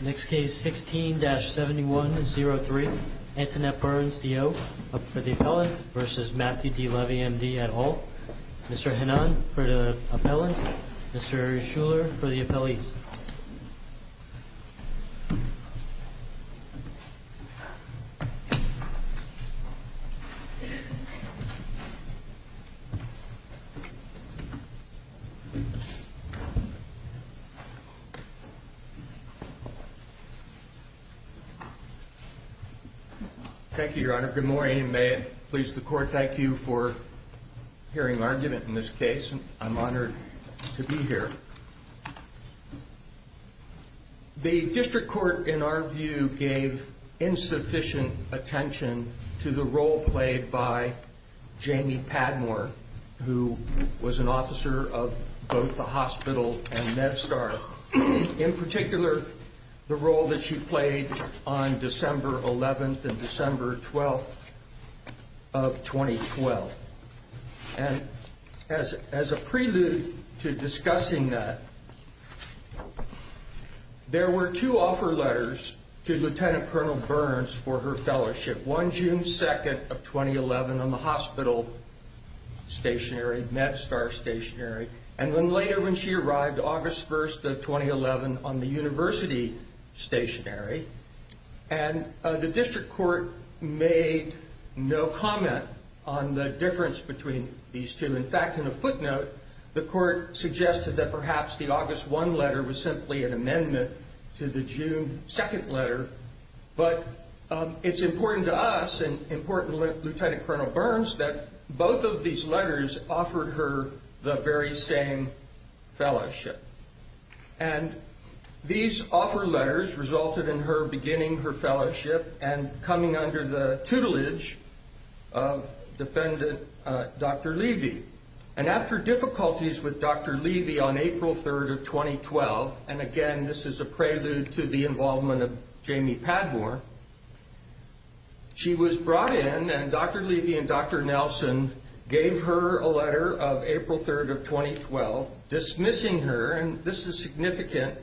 Next case, 16-7103. Antoinette Burns, D.O. up for the appellant v. Matthew D. Levy, M.D. at Alt. Mr. Hanan for the appellant. Mr. Shuler for the appellees. Thank you, Your Honor. Good morning. May it please the Court, thank you for hearing our argument in this case. I'm honored to be here. The District Court, in our view, gave insufficient attention to the role played by Jamie Padmore, who was an officer of both the hospital and MedStar. In particular, the role that she played on December 11th and December 12th of 2012. As a prelude to discussing that, there were two offer letters to Lt. Col. Burns for her fellowship. One June 2nd of 2011 on the hospital stationery, MedStar stationery. And then later when she arrived, August 1st of 2011 on the university stationery. And the District Court made no comment on the difference between these two. In fact, in a footnote, the Court suggested that perhaps the August 1 letter was simply an amendment to the June 2nd letter. But it's important to us and important to Lt. Col. Burns that both of these letters offered her the very same fellowship. And these offer letters resulted in her beginning her fellowship and coming under the tutelage of defendant Dr. Levy. And after difficulties with Dr. Levy on April 3rd of 2012, and again this is a prelude to the involvement of Jamie Padmore, she was brought in and Dr. Levy and Dr. Nelson gave her a letter of April 3rd of 2012 dismissing her, and this is significant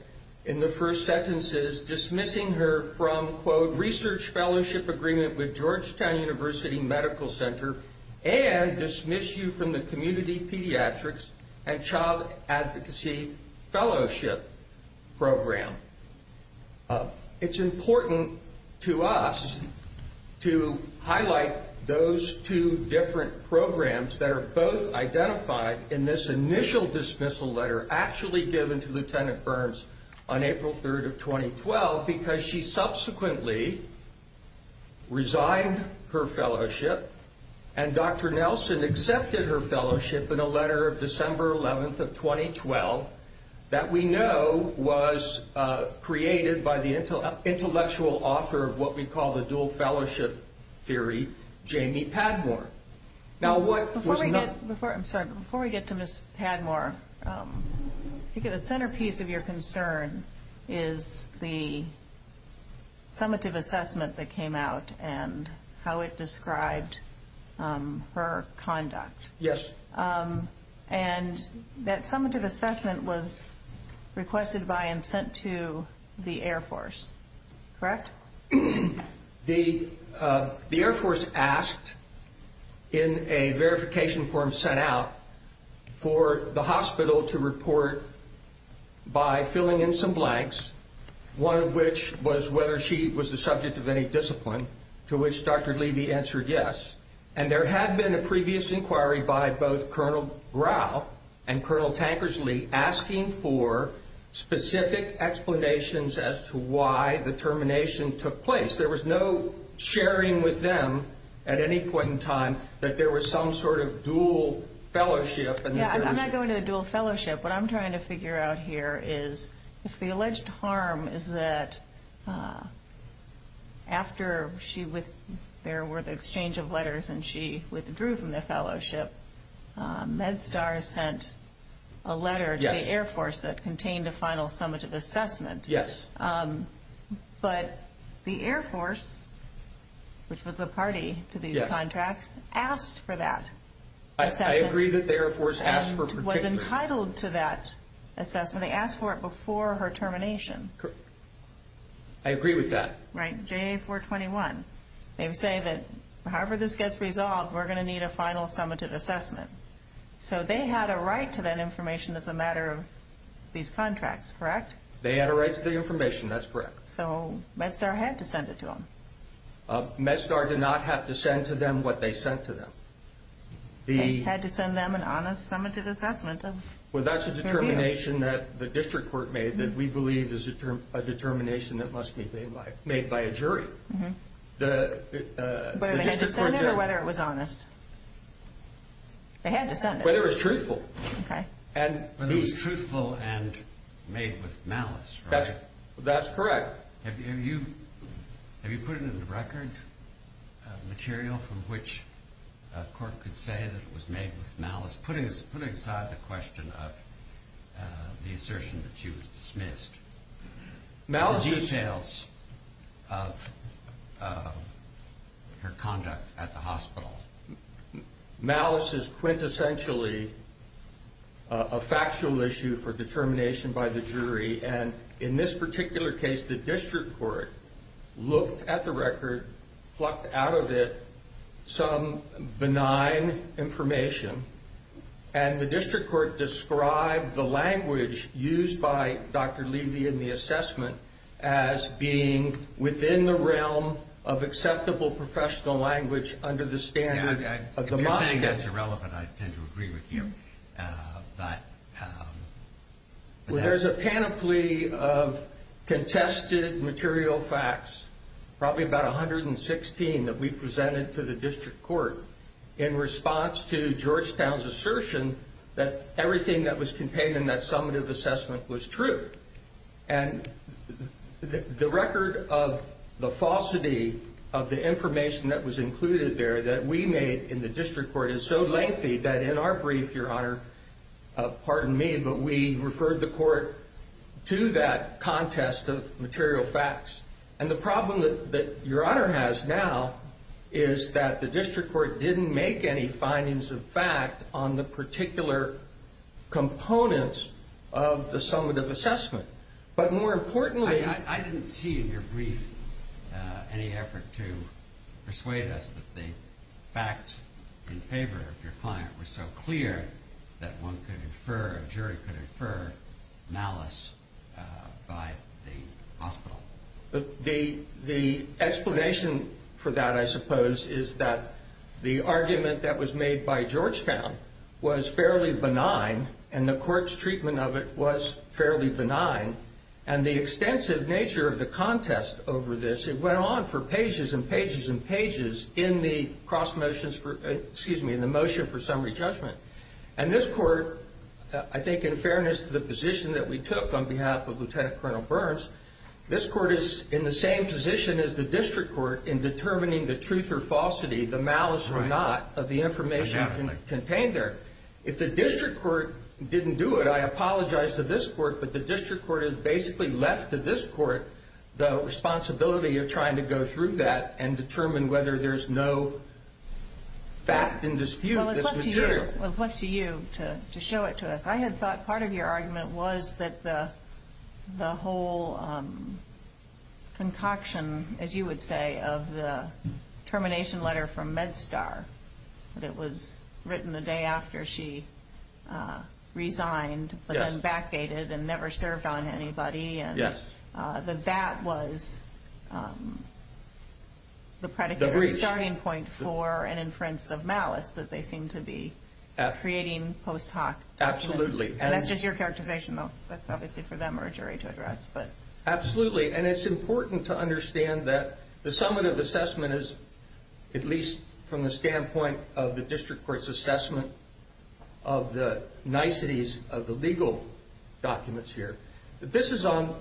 in the first sentences, dismissing her from, quote, research fellowship agreement with Georgetown University Medical Center and dismiss you from the Community Pediatrics and Child Advocacy Fellowship Program. It's important to us to highlight those two different programs that are both identified in this initial dismissal letter that were actually given to Lt. Burns on April 3rd of 2012 because she subsequently resigned her fellowship and Dr. Nelson accepted her fellowship in a letter of December 11th of 2012 that we know was created by the intellectual author of what we call the dual fellowship theory, Jamie Padmore. Before we get to Ms. Padmore, the centerpiece of your concern is the summative assessment that came out and how it described her conduct. Yes. And that summative assessment was requested by and sent to the Air Force, correct? Correct. The Air Force asked in a verification form sent out for the hospital to report by filling in some blanks, one of which was whether she was the subject of any discipline, to which Dr. Levy answered yes. And there had been a previous inquiry by both Colonel Brow and Colonel Tankersley asking for specific explanations as to why the termination took place. There was no sharing with them at any point in time that there was some sort of dual fellowship. I'm not going to a dual fellowship. What I'm trying to figure out here is if the alleged harm is that after there were the exchange of letters and she withdrew from the fellowship, MedStar sent a letter to the Air Force that contained a final summative assessment. Yes. But the Air Force, which was a party to these contracts, asked for that assessment. I agree that the Air Force asked for particular. It was entitled to that assessment. They asked for it before her termination. Correct. I agree with that. Right, JA-421. They say that however this gets resolved, we're going to need a final summative assessment. So they had a right to that information as a matter of these contracts, correct? They had a right to the information. That's correct. So MedStar had to send it to them. MedStar did not have to send to them what they sent to them. They had to send them an honest summative assessment. Well, that's a determination that the district court made that we believe is a determination that must be made by a jury. Whether they had to send it or whether it was honest? They had to send it. Whether it was truthful. Okay. Whether it was truthful and made with malice, right? That's correct. Have you put into the record material from which a court could say that it was made with malice? Put aside the question of the assertion that she was dismissed, the details of her conduct at the hospital. Malice is quintessentially a factual issue for determination by the jury. And in this particular case, the district court looked at the record, plucked out of it some benign information, and the district court described the language used by Dr. Levy in the assessment as being within the realm of acceptable professional language under the standard of the mosque. If you're saying that's irrelevant, I tend to agree with you. But... Well, there's a panoply of contested material facts, probably about 116 that we presented to the district court in response to Georgetown's assertion that everything that was contained in that summative assessment was true. And the record of the falsity of the information that was included there that we made in the district court is so lengthy that in our brief, Your Honor, pardon me, but we referred the court to that contest of material facts. And the problem that Your Honor has now is that the district court didn't make any findings of fact on the particular components of the summative assessment. I didn't see in your brief any effort to persuade us that the facts in favor of your client were so clear that one could infer, a jury could infer, malice by the hospital. The explanation for that, I suppose, is that the argument that was made by Georgetown was fairly benign, and the court's treatment of it was fairly benign. And the extensive nature of the contest over this, it went on for pages and pages and pages in the motion for summary judgment. And this court, I think in fairness to the position that we took on behalf of Lieutenant Colonel Burns, this court is in the same position as the district court in determining the truth or falsity, the malice or not, of the information contained there. If the district court didn't do it, I apologize to this court, but the district court has basically left to this court the responsibility of trying to go through that and determine whether there's no fact in dispute. Well, it's left to you to show it to us. I had thought part of your argument was that the whole concoction, as you would say, of the termination letter from MedStar, that it was written the day after she resigned, but then backdated and never served on anybody, that that was the predicate or the starting point for an inference of malice that they seem to be creating post hoc documents. Absolutely. And that's just your characterization, though. That's obviously for them or a jury to address. Absolutely, and it's important to understand that the summative assessment is, at least from the standpoint of the district court's assessment of the niceties of the legal documents here, that this is on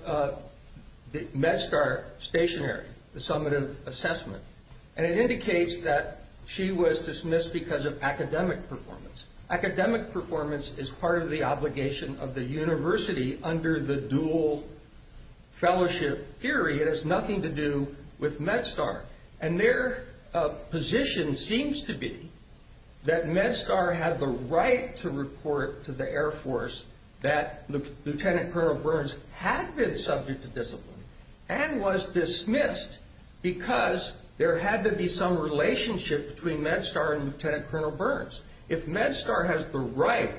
the MedStar stationary, the summative assessment, and it indicates that she was dismissed because of academic performance. Academic performance is part of the obligation of the university under the dual fellowship theory. It has nothing to do with MedStar. And their position seems to be that MedStar had the right to report to the Air Force that Lieutenant Colonel Burns had been subject to discipline and was dismissed because there had to be some relationship between MedStar and Lieutenant Colonel Burns. If MedStar has the right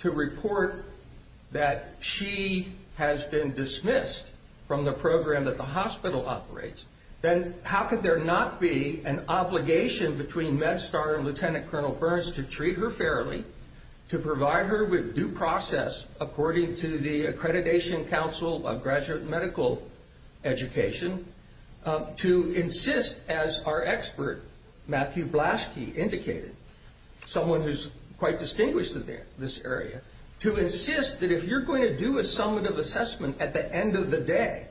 to report that she has been dismissed from the program that the hospital operates, then how could there not be an obligation between MedStar and Lieutenant Colonel Burns to treat her fairly, to provide her with due process according to the Accreditation Council of Graduate Medical Education, to insist, as our expert Matthew Blaschke indicated, someone who's quite distinguished in this area, to insist that if you're going to do a summative assessment at the end of the day,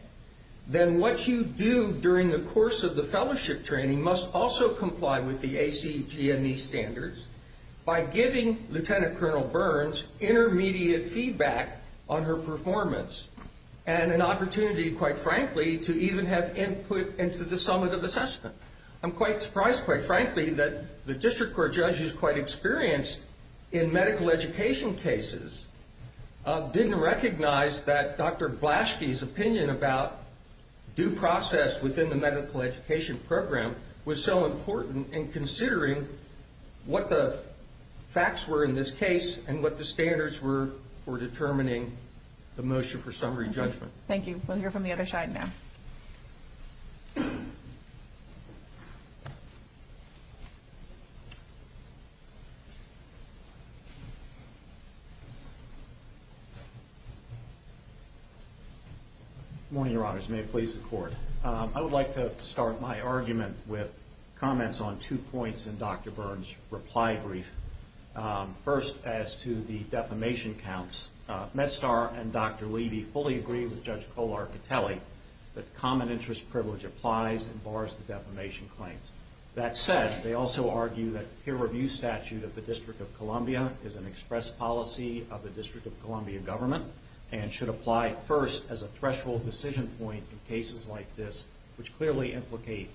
then what you do during the course of the fellowship training must also comply with the ACGME standards by giving Lieutenant Colonel Burns intermediate feedback on her performance and an opportunity, quite frankly, to even have input into the summative assessment. I'm quite surprised, quite frankly, that the district court judge who's quite experienced in medical education cases didn't recognize that Dr. Blaschke's opinion about due process within the medical education program was so important in considering what the facts were in this case and what the standards were for determining the motion for summary judgment. Thank you. We'll hear from the other side now. Good morning, Your Honors. May it please the Court. I would like to start my argument with comments on two points in Dr. Burns' reply brief. First, as to the defamation counts, MedStar and Dr. Levy fully agree with Judge Kolarkatelli that common interest privilege applies and bars the defamation claims. That said, they also argue that peer review statute of the District of Columbia is an express policy of the District of Columbia government and should apply first as a threshold decision point in cases like this, which clearly implicate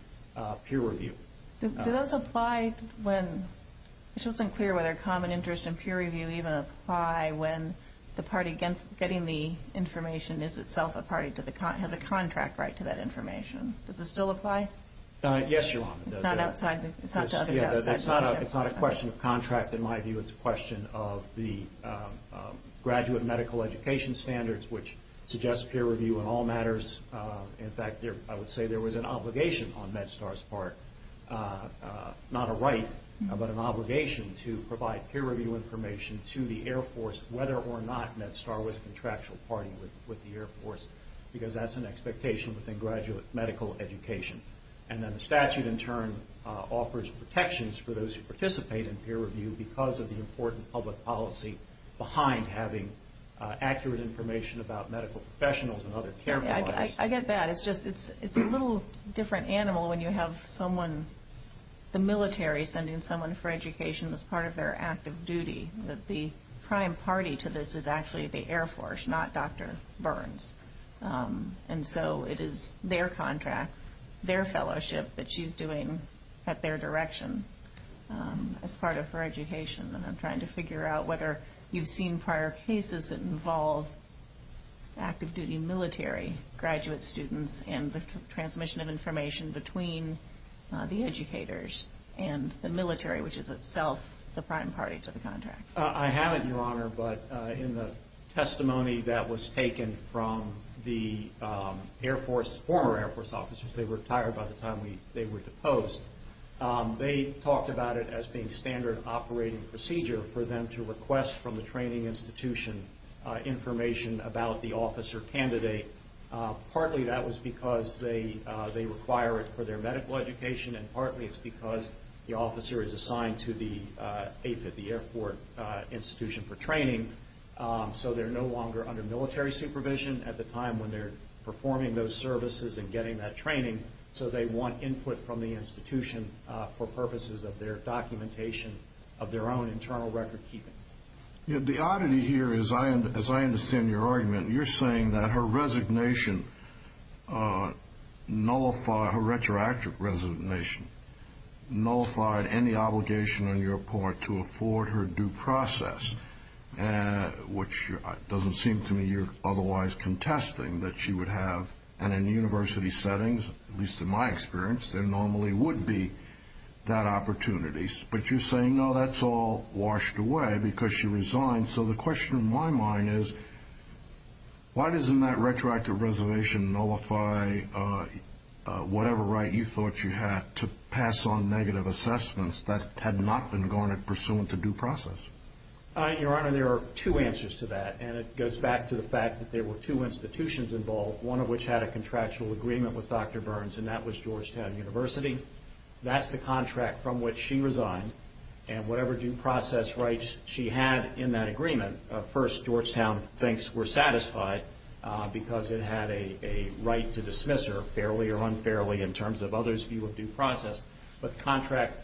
peer review. Does it apply when it's unclear whether common interest and peer review even apply when the party getting the information is itself a party to the contract, has a contract right to that information? Does it still apply? Yes, Your Honor. It's not a question of contract, in my view. It's a question of the graduate medical education standards, which suggest peer review in all matters. In fact, I would say there was an obligation on MedStar's part, not a right, but an obligation to provide peer review information to the Air Force whether or not MedStar was a contractual party with the Air Force, because that's an expectation within graduate medical education. And then the statute, in turn, offers protections for those who participate in peer review because of the important public policy behind having accurate information about medical professionals and other care providers. I get that. It's a little different animal when you have someone, the military, sending someone for education as part of their active duty, that the prime party to this is actually the Air Force, not Dr. Burns. And so it is their contract, their fellowship that she's doing at their direction as part of her education. And I'm trying to figure out whether you've seen prior cases that involve active duty military graduate students and the transmission of information between the educators and the military, which is itself the prime party to the contract. I haven't, Your Honor, but in the testimony that was taken from the Air Force, former Air Force officers, they retired by the time they were deposed, they talked about it as being standard operating procedure for them to request from the training institution information about the officer candidate. Partly that was because they require it for their medical education, and partly it's because the officer is assigned to the airport institution for training, so they're no longer under military supervision at the time when they're performing those services and getting that training, so they want input from the institution for purposes of their documentation, of their own internal record keeping. The oddity here is, as I understand your argument, you're saying that her resignation, her retroactive resignation, nullified any obligation on your part to afford her due process, which doesn't seem to me you're otherwise contesting that she would have, and in university settings, at least in my experience, there normally would be that opportunity. But you're saying, no, that's all washed away because she resigned. So the question in my mind is, why doesn't that retroactive reservation nullify whatever right you thought she had to pass on negative assessments that had not been gone in pursuant to due process? Your Honor, there are two answers to that, and it goes back to the fact that there were two institutions involved, one of which had a contractual agreement with Dr. Burns, and that was Georgetown University. That's the contract from which she resigned, and whatever due process rights she had in that agreement, first Georgetown thinks were satisfied because it had a right to dismiss her, fairly or unfairly in terms of others' view of due process, but the contract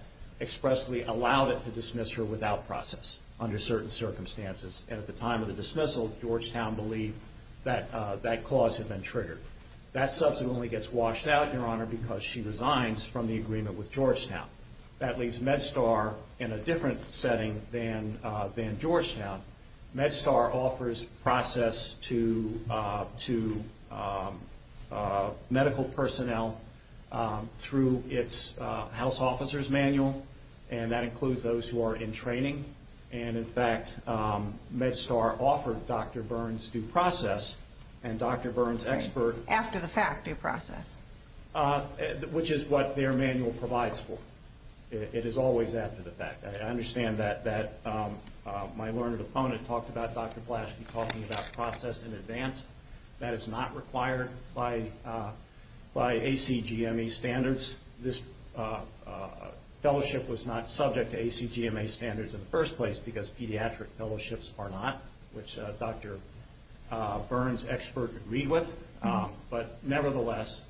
expressly allowed it to dismiss her without process under certain circumstances. And at the time of the dismissal, Georgetown believed that that clause had been triggered. That subsequently gets washed out, Your Honor, because she resigns from the agreement with Georgetown. That leaves MedStar in a different setting than Georgetown. MedStar offers process to medical personnel through its house officer's manual, and that includes those who are in training. And, in fact, MedStar offered Dr. Burns due process, and Dr. Burns' expert- After the fact, due process. Which is what their manual provides for. It is always after the fact. I understand that my learned opponent talked about Dr. Blaschke talking about process in advance. That is not required by ACGME standards. This fellowship was not subject to ACGME standards in the first place, because pediatric fellowships are not, which Dr. Burns' expert agreed with. But, nevertheless,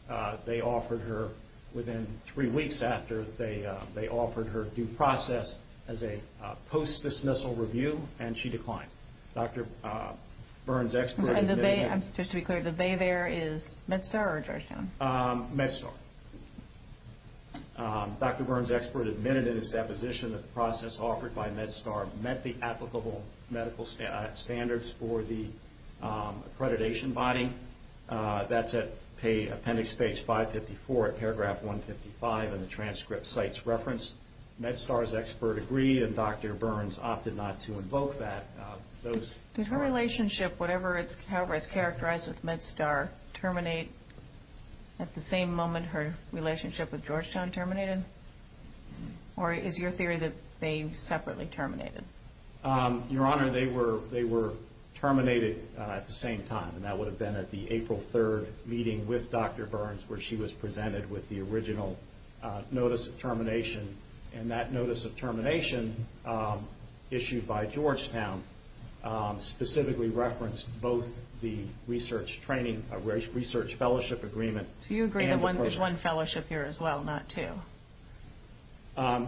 they offered her, within three weeks after, they offered her due process as a post-dismissal review, and she declined. Dr. Burns' expert- Just to be clear, the they there is MedStar or Georgetown? MedStar. Dr. Burns' expert admitted in his deposition that the process offered by MedStar met the applicable medical standards for the accreditation body. That's at appendix page 554 at paragraph 155 in the transcript site's reference. MedStar's expert agreed, and Dr. Burns opted not to invoke that. Did her relationship, however it's characterized with MedStar, terminate at the same moment her relationship with Georgetown terminated? Or is your theory that they separately terminated? Your Honor, they were terminated at the same time, and that would have been at the April 3rd meeting with Dr. Burns, where she was presented with the original notice of termination. And that notice of termination issued by Georgetown specifically referenced both the research fellowship agreement- Do you agree that there's one fellowship here as well, not two?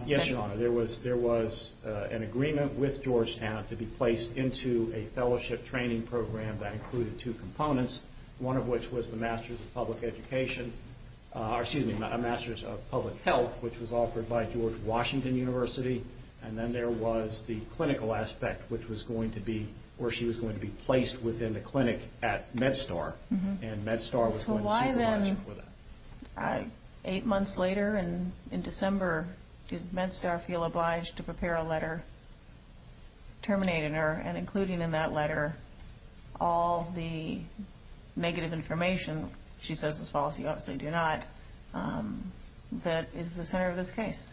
Yes, Your Honor. There was an agreement with Georgetown to be placed into a fellowship training program that included two components, one of which was the Masters of Public Health, which was offered by George Washington University, and then there was the clinical aspect, which was going to be- where she was going to be placed within the clinic at MedStar, and MedStar was going to supervise her for that. So why then, eight months later in December, did MedStar feel obliged to prepare a letter terminating her, and including in that letter all the negative information? She says as follows, you obviously do not. That is the center of this case.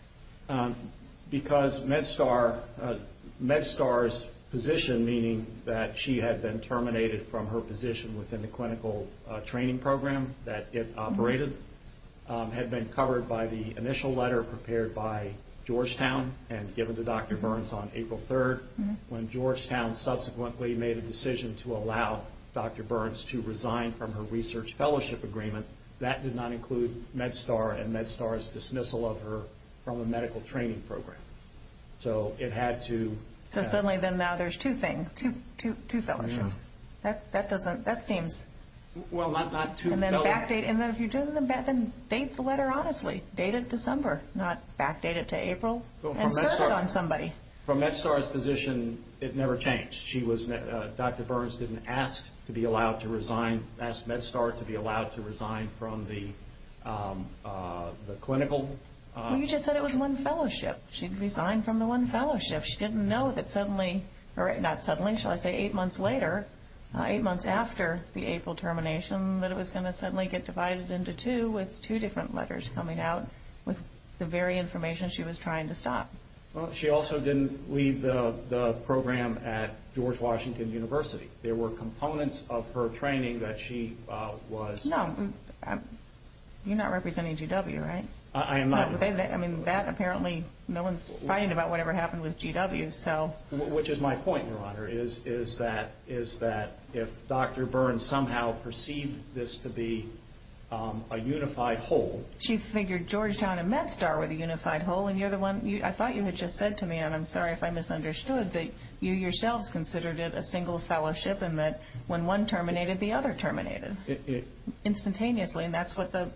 Because MedStar's position, meaning that she had been terminated from her position within the clinical training program that it operated, had been covered by the initial letter prepared by Georgetown and given to Dr. Burns on April 3rd. When Georgetown subsequently made a decision to allow Dr. Burns to resign from her research fellowship agreement, that did not include MedStar and MedStar's dismissal of her from the medical training program. So it had to- So suddenly then now there's two things, two fellowships. That doesn't- that seems- Well, not two fellowships. And then if you're doing the- then date the letter honestly. Date it December, not backdate it to April and serve it on somebody. From MedStar's position, it never changed. Dr. Burns didn't ask to be allowed to resign. She didn't resign from the clinical- Well, you just said it was one fellowship. She resigned from the one fellowship. She didn't know that suddenly- or not suddenly, shall I say eight months later, eight months after the April termination, that it was going to suddenly get divided into two with two different letters coming out with the very information she was trying to stop. Well, she also didn't leave the program at George Washington University. There were components of her training that she was- No, you're not representing GW, right? I am not. I mean, that apparently- no one's fighting about whatever happened with GW. Which is my point, Your Honor, is that if Dr. Burns somehow perceived this to be a unified whole- She figured Georgetown and MedStar were the unified whole and you're the one- I thought you had just said to me, and I'm sorry if I misunderstood, that you yourselves considered it a single fellowship and that when one terminated, the other terminated instantaneously. And that's what the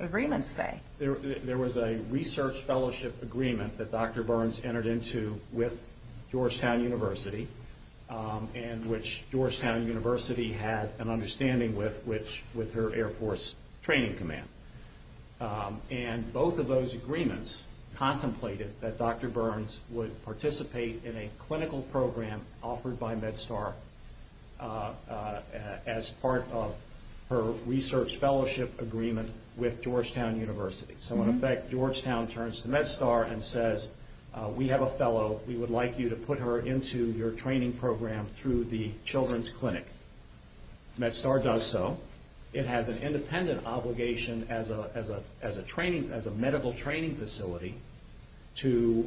agreements say. There was a research fellowship agreement that Dr. Burns entered into with Georgetown University and which Georgetown University had an understanding with, with her Air Force Training Command. And both of those agreements contemplated that Dr. Burns would participate in a clinical program offered by MedStar as part of her research fellowship agreement with Georgetown University. So, in effect, Georgetown turns to MedStar and says, we have a fellow, we would like you to put her into your training program through the children's clinic. MedStar does so. It has an independent obligation as a medical training facility to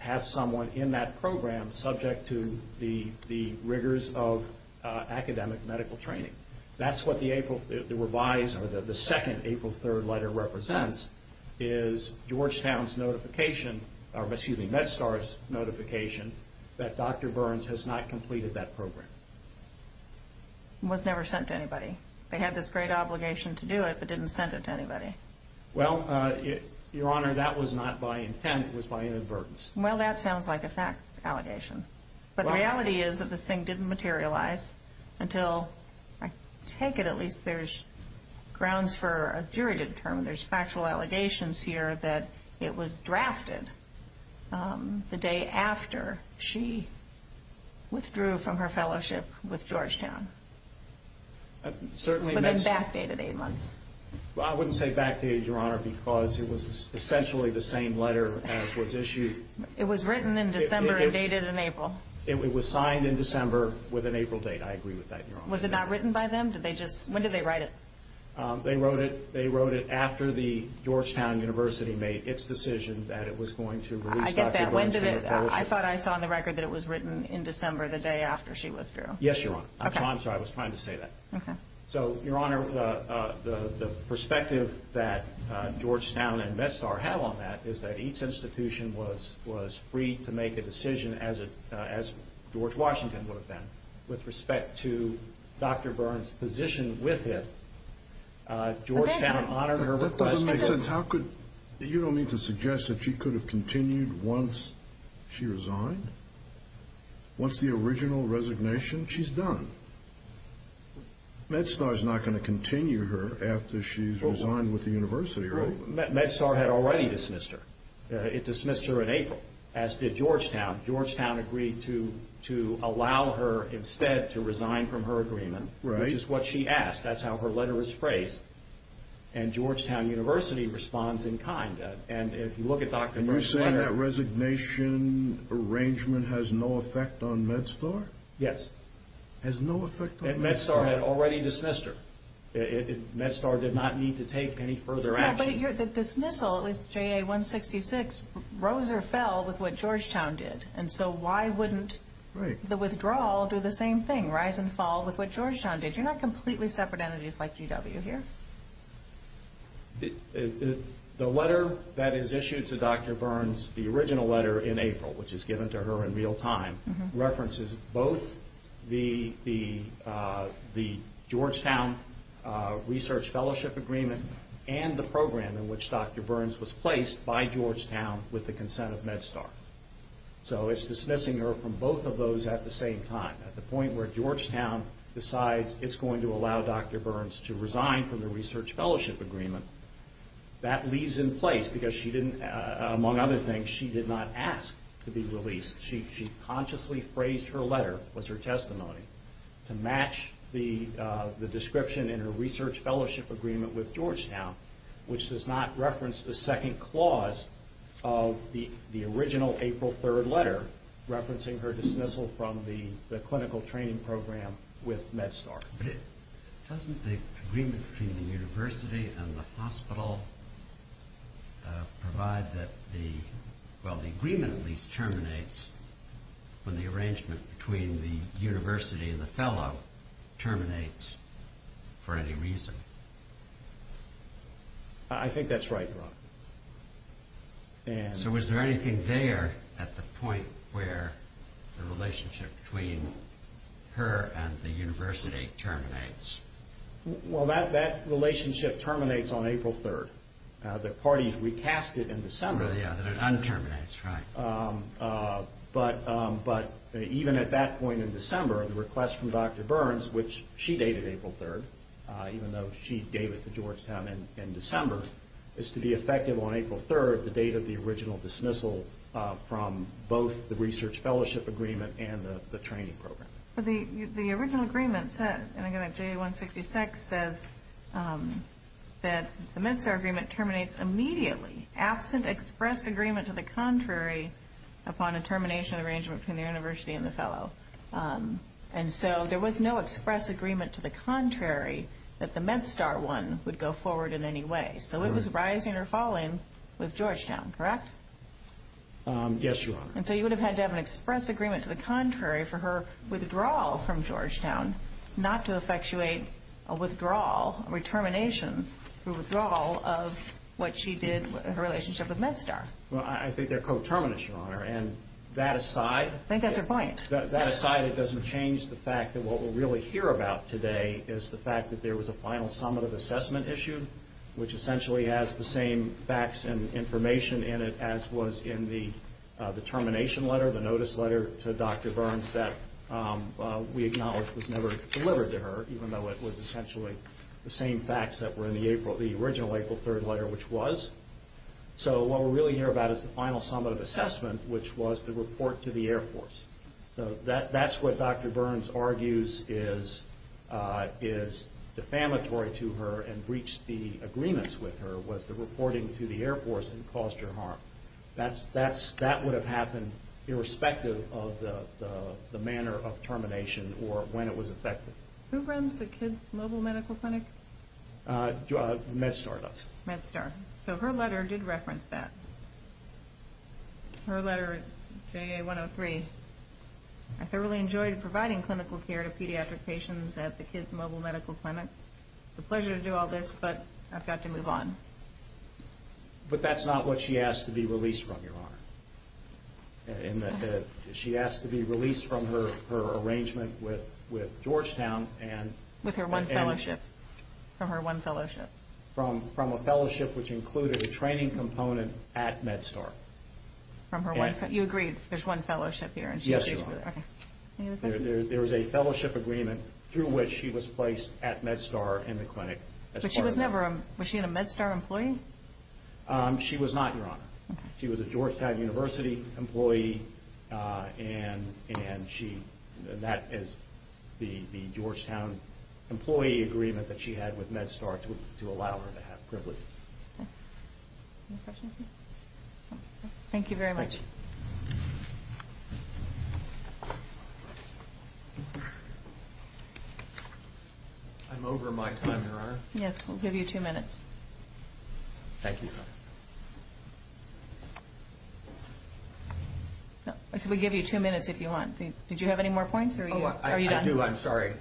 have someone in that program subject to the rigors of academic medical training. That's what the revised, or the second April 3rd letter represents, is Georgetown's notification, or excuse me, MedStar's notification, that Dr. Burns has not completed that program. Was never sent to anybody. They had this great obligation to do it, but didn't send it to anybody. Well, Your Honor, that was not by intent. It was by inadvertence. Well, that sounds like a fact allegation. But the reality is that this thing didn't materialize until, I take it, at least there's grounds for a juridic term, there's factual allegations here, that it was drafted the day after she withdrew from her fellowship with Georgetown. But then backdated eight months. I wouldn't say backdated, Your Honor, because it was essentially the same letter as was issued. It was written in December and dated in April. It was signed in December with an April date. I agree with that, Your Honor. Was it not written by them? When did they write it? They wrote it after the Georgetown University made its decision that it was going to release Dr. Burns. I get that. I thought I saw on the record that it was written in December, the day after she withdrew. Yes, Your Honor. I'm sorry. I was trying to say that. Okay. So, Your Honor, the perspective that Georgetown and MedStar have on that is that each institution was free to make a decision, as George Washington would have done, with respect to Dr. Burns' position with him. Georgetown honored her request. That doesn't make sense. You don't mean to suggest that she could have continued once she resigned? Once the original resignation? She's done. MedStar's not going to continue her after she's resigned with the university, right? MedStar had already dismissed her. It dismissed her in April, as did Georgetown. Georgetown agreed to allow her, instead, to resign from her agreement, which is what she asked. That's how her letter was phrased. And Georgetown University responds in kind. And if you look at Dr. Burns' letter— Are you saying that resignation arrangement has no effect on MedStar? Yes. Has no effect on MedStar? MedStar had already dismissed her. MedStar did not need to take any further action. But the dismissal, JA-166, rose or fell with what Georgetown did. And so why wouldn't the withdrawal do the same thing, rise and fall with what Georgetown did? You're not completely separate entities like GW here. The letter that is issued to Dr. Burns, the original letter in April, which is given to her in real time, references both the Georgetown research fellowship agreement and the program in which Dr. Burns was placed by Georgetown with the consent of MedStar. So it's dismissing her from both of those at the same time. At the point where Georgetown decides it's going to allow Dr. Burns to resign from the research fellowship agreement, that leaves in place because she didn't, among other things, she did not ask to be released. She consciously phrased her letter, was her testimony, to match the description in her research fellowship agreement with Georgetown, which does not reference the second clause of the original April 3rd letter referencing her dismissal from the clinical training program with MedStar. But doesn't the agreement between the university and the hospital provide that the, well the agreement at least terminates when the arrangement between the university and the fellow terminates for any reason? I think that's right, Your Honor. So was there anything there at the point where the relationship between her and the university terminates? Well that relationship terminates on April 3rd. The parties recast it in December. Oh yeah, that it un-terminates, right. But even at that point in December, the request from Dr. Burns, which she dated April 3rd, even though she gave it to Georgetown in December, is to be effective on April 3rd, the date of the original dismissal from both the research fellowship agreement and the training program. But the original agreement said, and again, J166 says that the MedStar agreement terminates immediately, absent express agreement to the contrary upon a termination of the arrangement between the university and the fellow. And so there was no express agreement to the contrary that the MedStar one would go forward in any way. So it was rising or falling with Georgetown, correct? Yes, Your Honor. And so you would have had to have an express agreement to the contrary for her withdrawal from Georgetown, not to effectuate a withdrawal, a re-termination, a withdrawal of what she did, her relationship with MedStar. Well I think they're co-terminants, Your Honor, and that aside... I think that's her point. That aside, it doesn't change the fact that what we'll really hear about today is the fact that there was a final summative assessment issued, which essentially has the same facts and information in it as was in the termination letter, the notice letter to Dr. Burns that we acknowledge was never delivered to her, even though it was essentially the same facts that were in the original April 3rd letter, which was. So what we'll really hear about is the final summative assessment, which was the report to the Air Force. So that's what Dr. Burns argues is defamatory to her and breached the agreements with her, was the reporting to the Air Force and caused her harm. That would have happened irrespective of the manner of termination or when it was effected. Who runs the kids' mobile medical clinic? MedStar does. MedStar. So her letter did reference that. Her letter, JA 103. I thoroughly enjoyed providing clinical care to pediatric patients at the kids' mobile medical clinic. It's a pleasure to do all this, but I've got to move on. But that's not what she asked to be released from, Your Honor. She asked to be released from her arrangement with Georgetown and... With her one fellowship. From her one fellowship. From a fellowship which included a training component at MedStar. From her one fellowship. You agreed there's one fellowship here. Yes, Your Honor. Okay. There was a fellowship agreement through which she was placed at MedStar in the clinic. But she was never a MedStar employee? She was not, Your Honor. She was a Georgetown University employee, and that is the Georgetown employee agreement that she had with MedStar to allow her to have privileges. Okay. Any questions? Thank you very much. I'm over my time, Your Honor. Yes, we'll give you two minutes. Thank you, Your Honor. We'll give you two minutes if you want. Did you have any more points or are you done? I do. I'm sorry.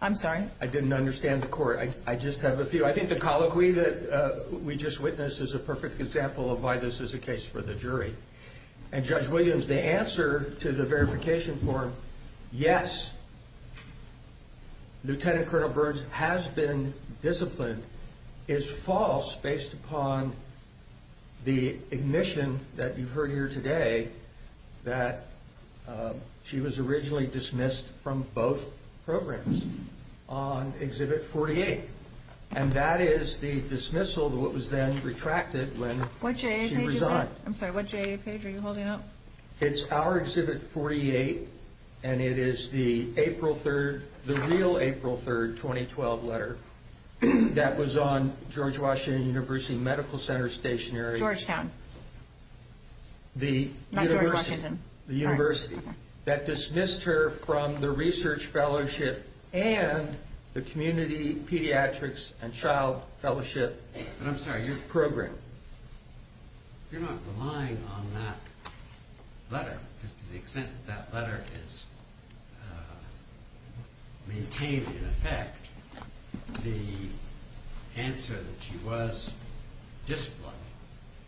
I'm sorry. I didn't understand the court. I just have a few. I think the colloquy that we just witnessed is a perfect example of why this is a case for the jury. And Judge Williams, the answer to the verification form, yes, Lieutenant Colonel Burns has been disciplined, is false based upon the admission that you heard here today that she was originally dismissed from both programs on Exhibit 48. And that is the dismissal, what was then retracted when she resigned. I'm sorry. What page are you holding up? It's our Exhibit 48, and it is the April 3rd, the real April 3rd, 2012 letter that was on George Washington University Medical Center Stationery. Georgetown. Not George Washington. The university that dismissed her from the research fellowship and the community pediatrics and child fellowship program. I'm sorry. Pediatric program. You're not relying on that letter, because to the extent that that letter is maintained in effect, the answer that she was disciplined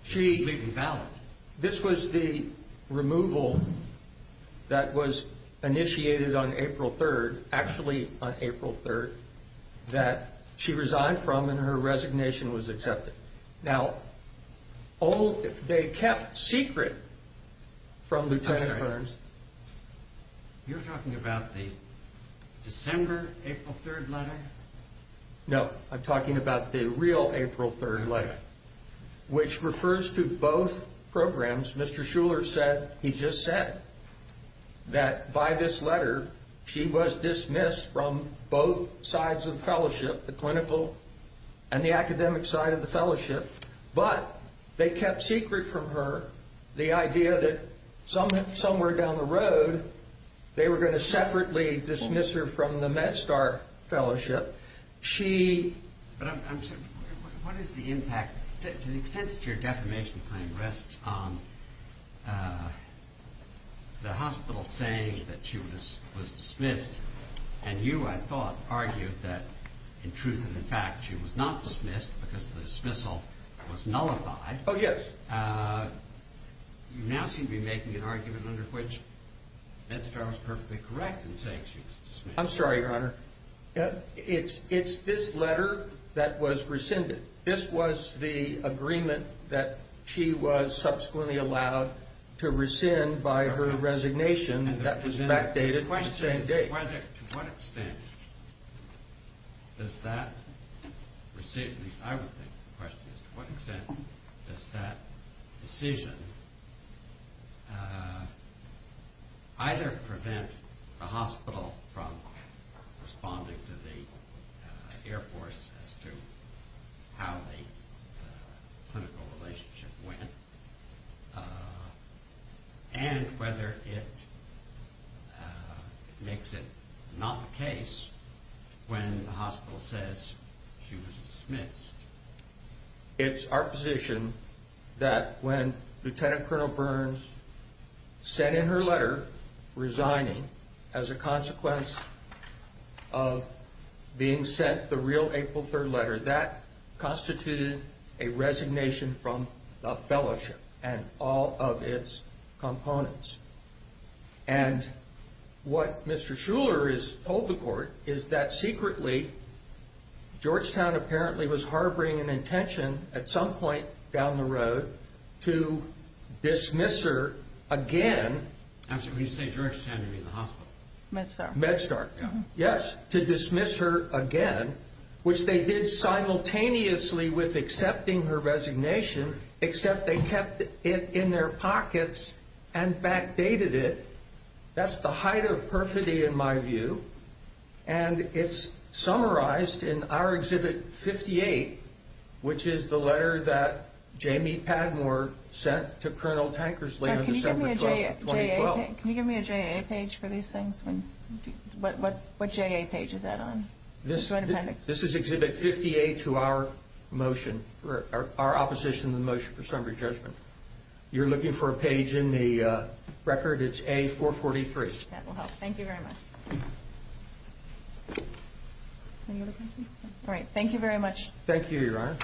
is completely valid. This was the removal that was initiated on April 3rd, actually on April 3rd, that she resigned from and her resignation was accepted. Now, they kept secret from Lieutenant Burns. You're talking about the December, April 3rd letter? No, I'm talking about the real April 3rd letter, which refers to both programs. As Mr. Shuler said, he just said that by this letter, she was dismissed from both sides of the fellowship, the clinical and the academic side of the fellowship, but they kept secret from her the idea that somewhere down the road they were going to separately dismiss her from the MedStar fellowship. What is the impact? To the extent that your defamation claim rests on the hospital saying that she was dismissed and you, I thought, argued that in truth and in fact she was not dismissed because the dismissal was nullified. Oh, yes. You now seem to be making an argument under which MedStar was perfectly correct in saying she was dismissed. I'm sorry, Your Honor. It's this letter that was rescinded. This was the agreement that she was subsequently allowed to rescind by her resignation that was backdated to the same date. To what extent does that rescind, at least I would think the question is, to what extent does that decision either prevent the hospital from responding to the Air Force as to how the clinical relationship went and whether it makes it not the case when the hospital says she was dismissed. It's our position that when Lieutenant Colonel Burns sent in her letter resigning as a consequence of being sent the real April 3rd letter, that constituted a resignation from the fellowship and all of its components. And what Mr. Shuler has told the court is that secretly, Georgetown apparently was harboring an intention at some point down the road to dismiss her again. I'm sorry, when you say Georgetown, you mean the hospital? MedStar. MedStar, yes. To dismiss her again, which they did simultaneously with accepting her resignation, except they kept it in their pockets and backdated it. That's the height of perfidy in my view. And it's summarized in our Exhibit 58, which is the letter that Jamie Padmore sent to Colonel Tankersley on December 12, 2012. Can you give me a J.A. page for these things? What J.A. page is that on? This is Exhibit 58 to our motion, our opposition to the motion for summary judgment. You're looking for a page in the record. It's A443. That will help. Thank you very much. Thank you, Your Honor.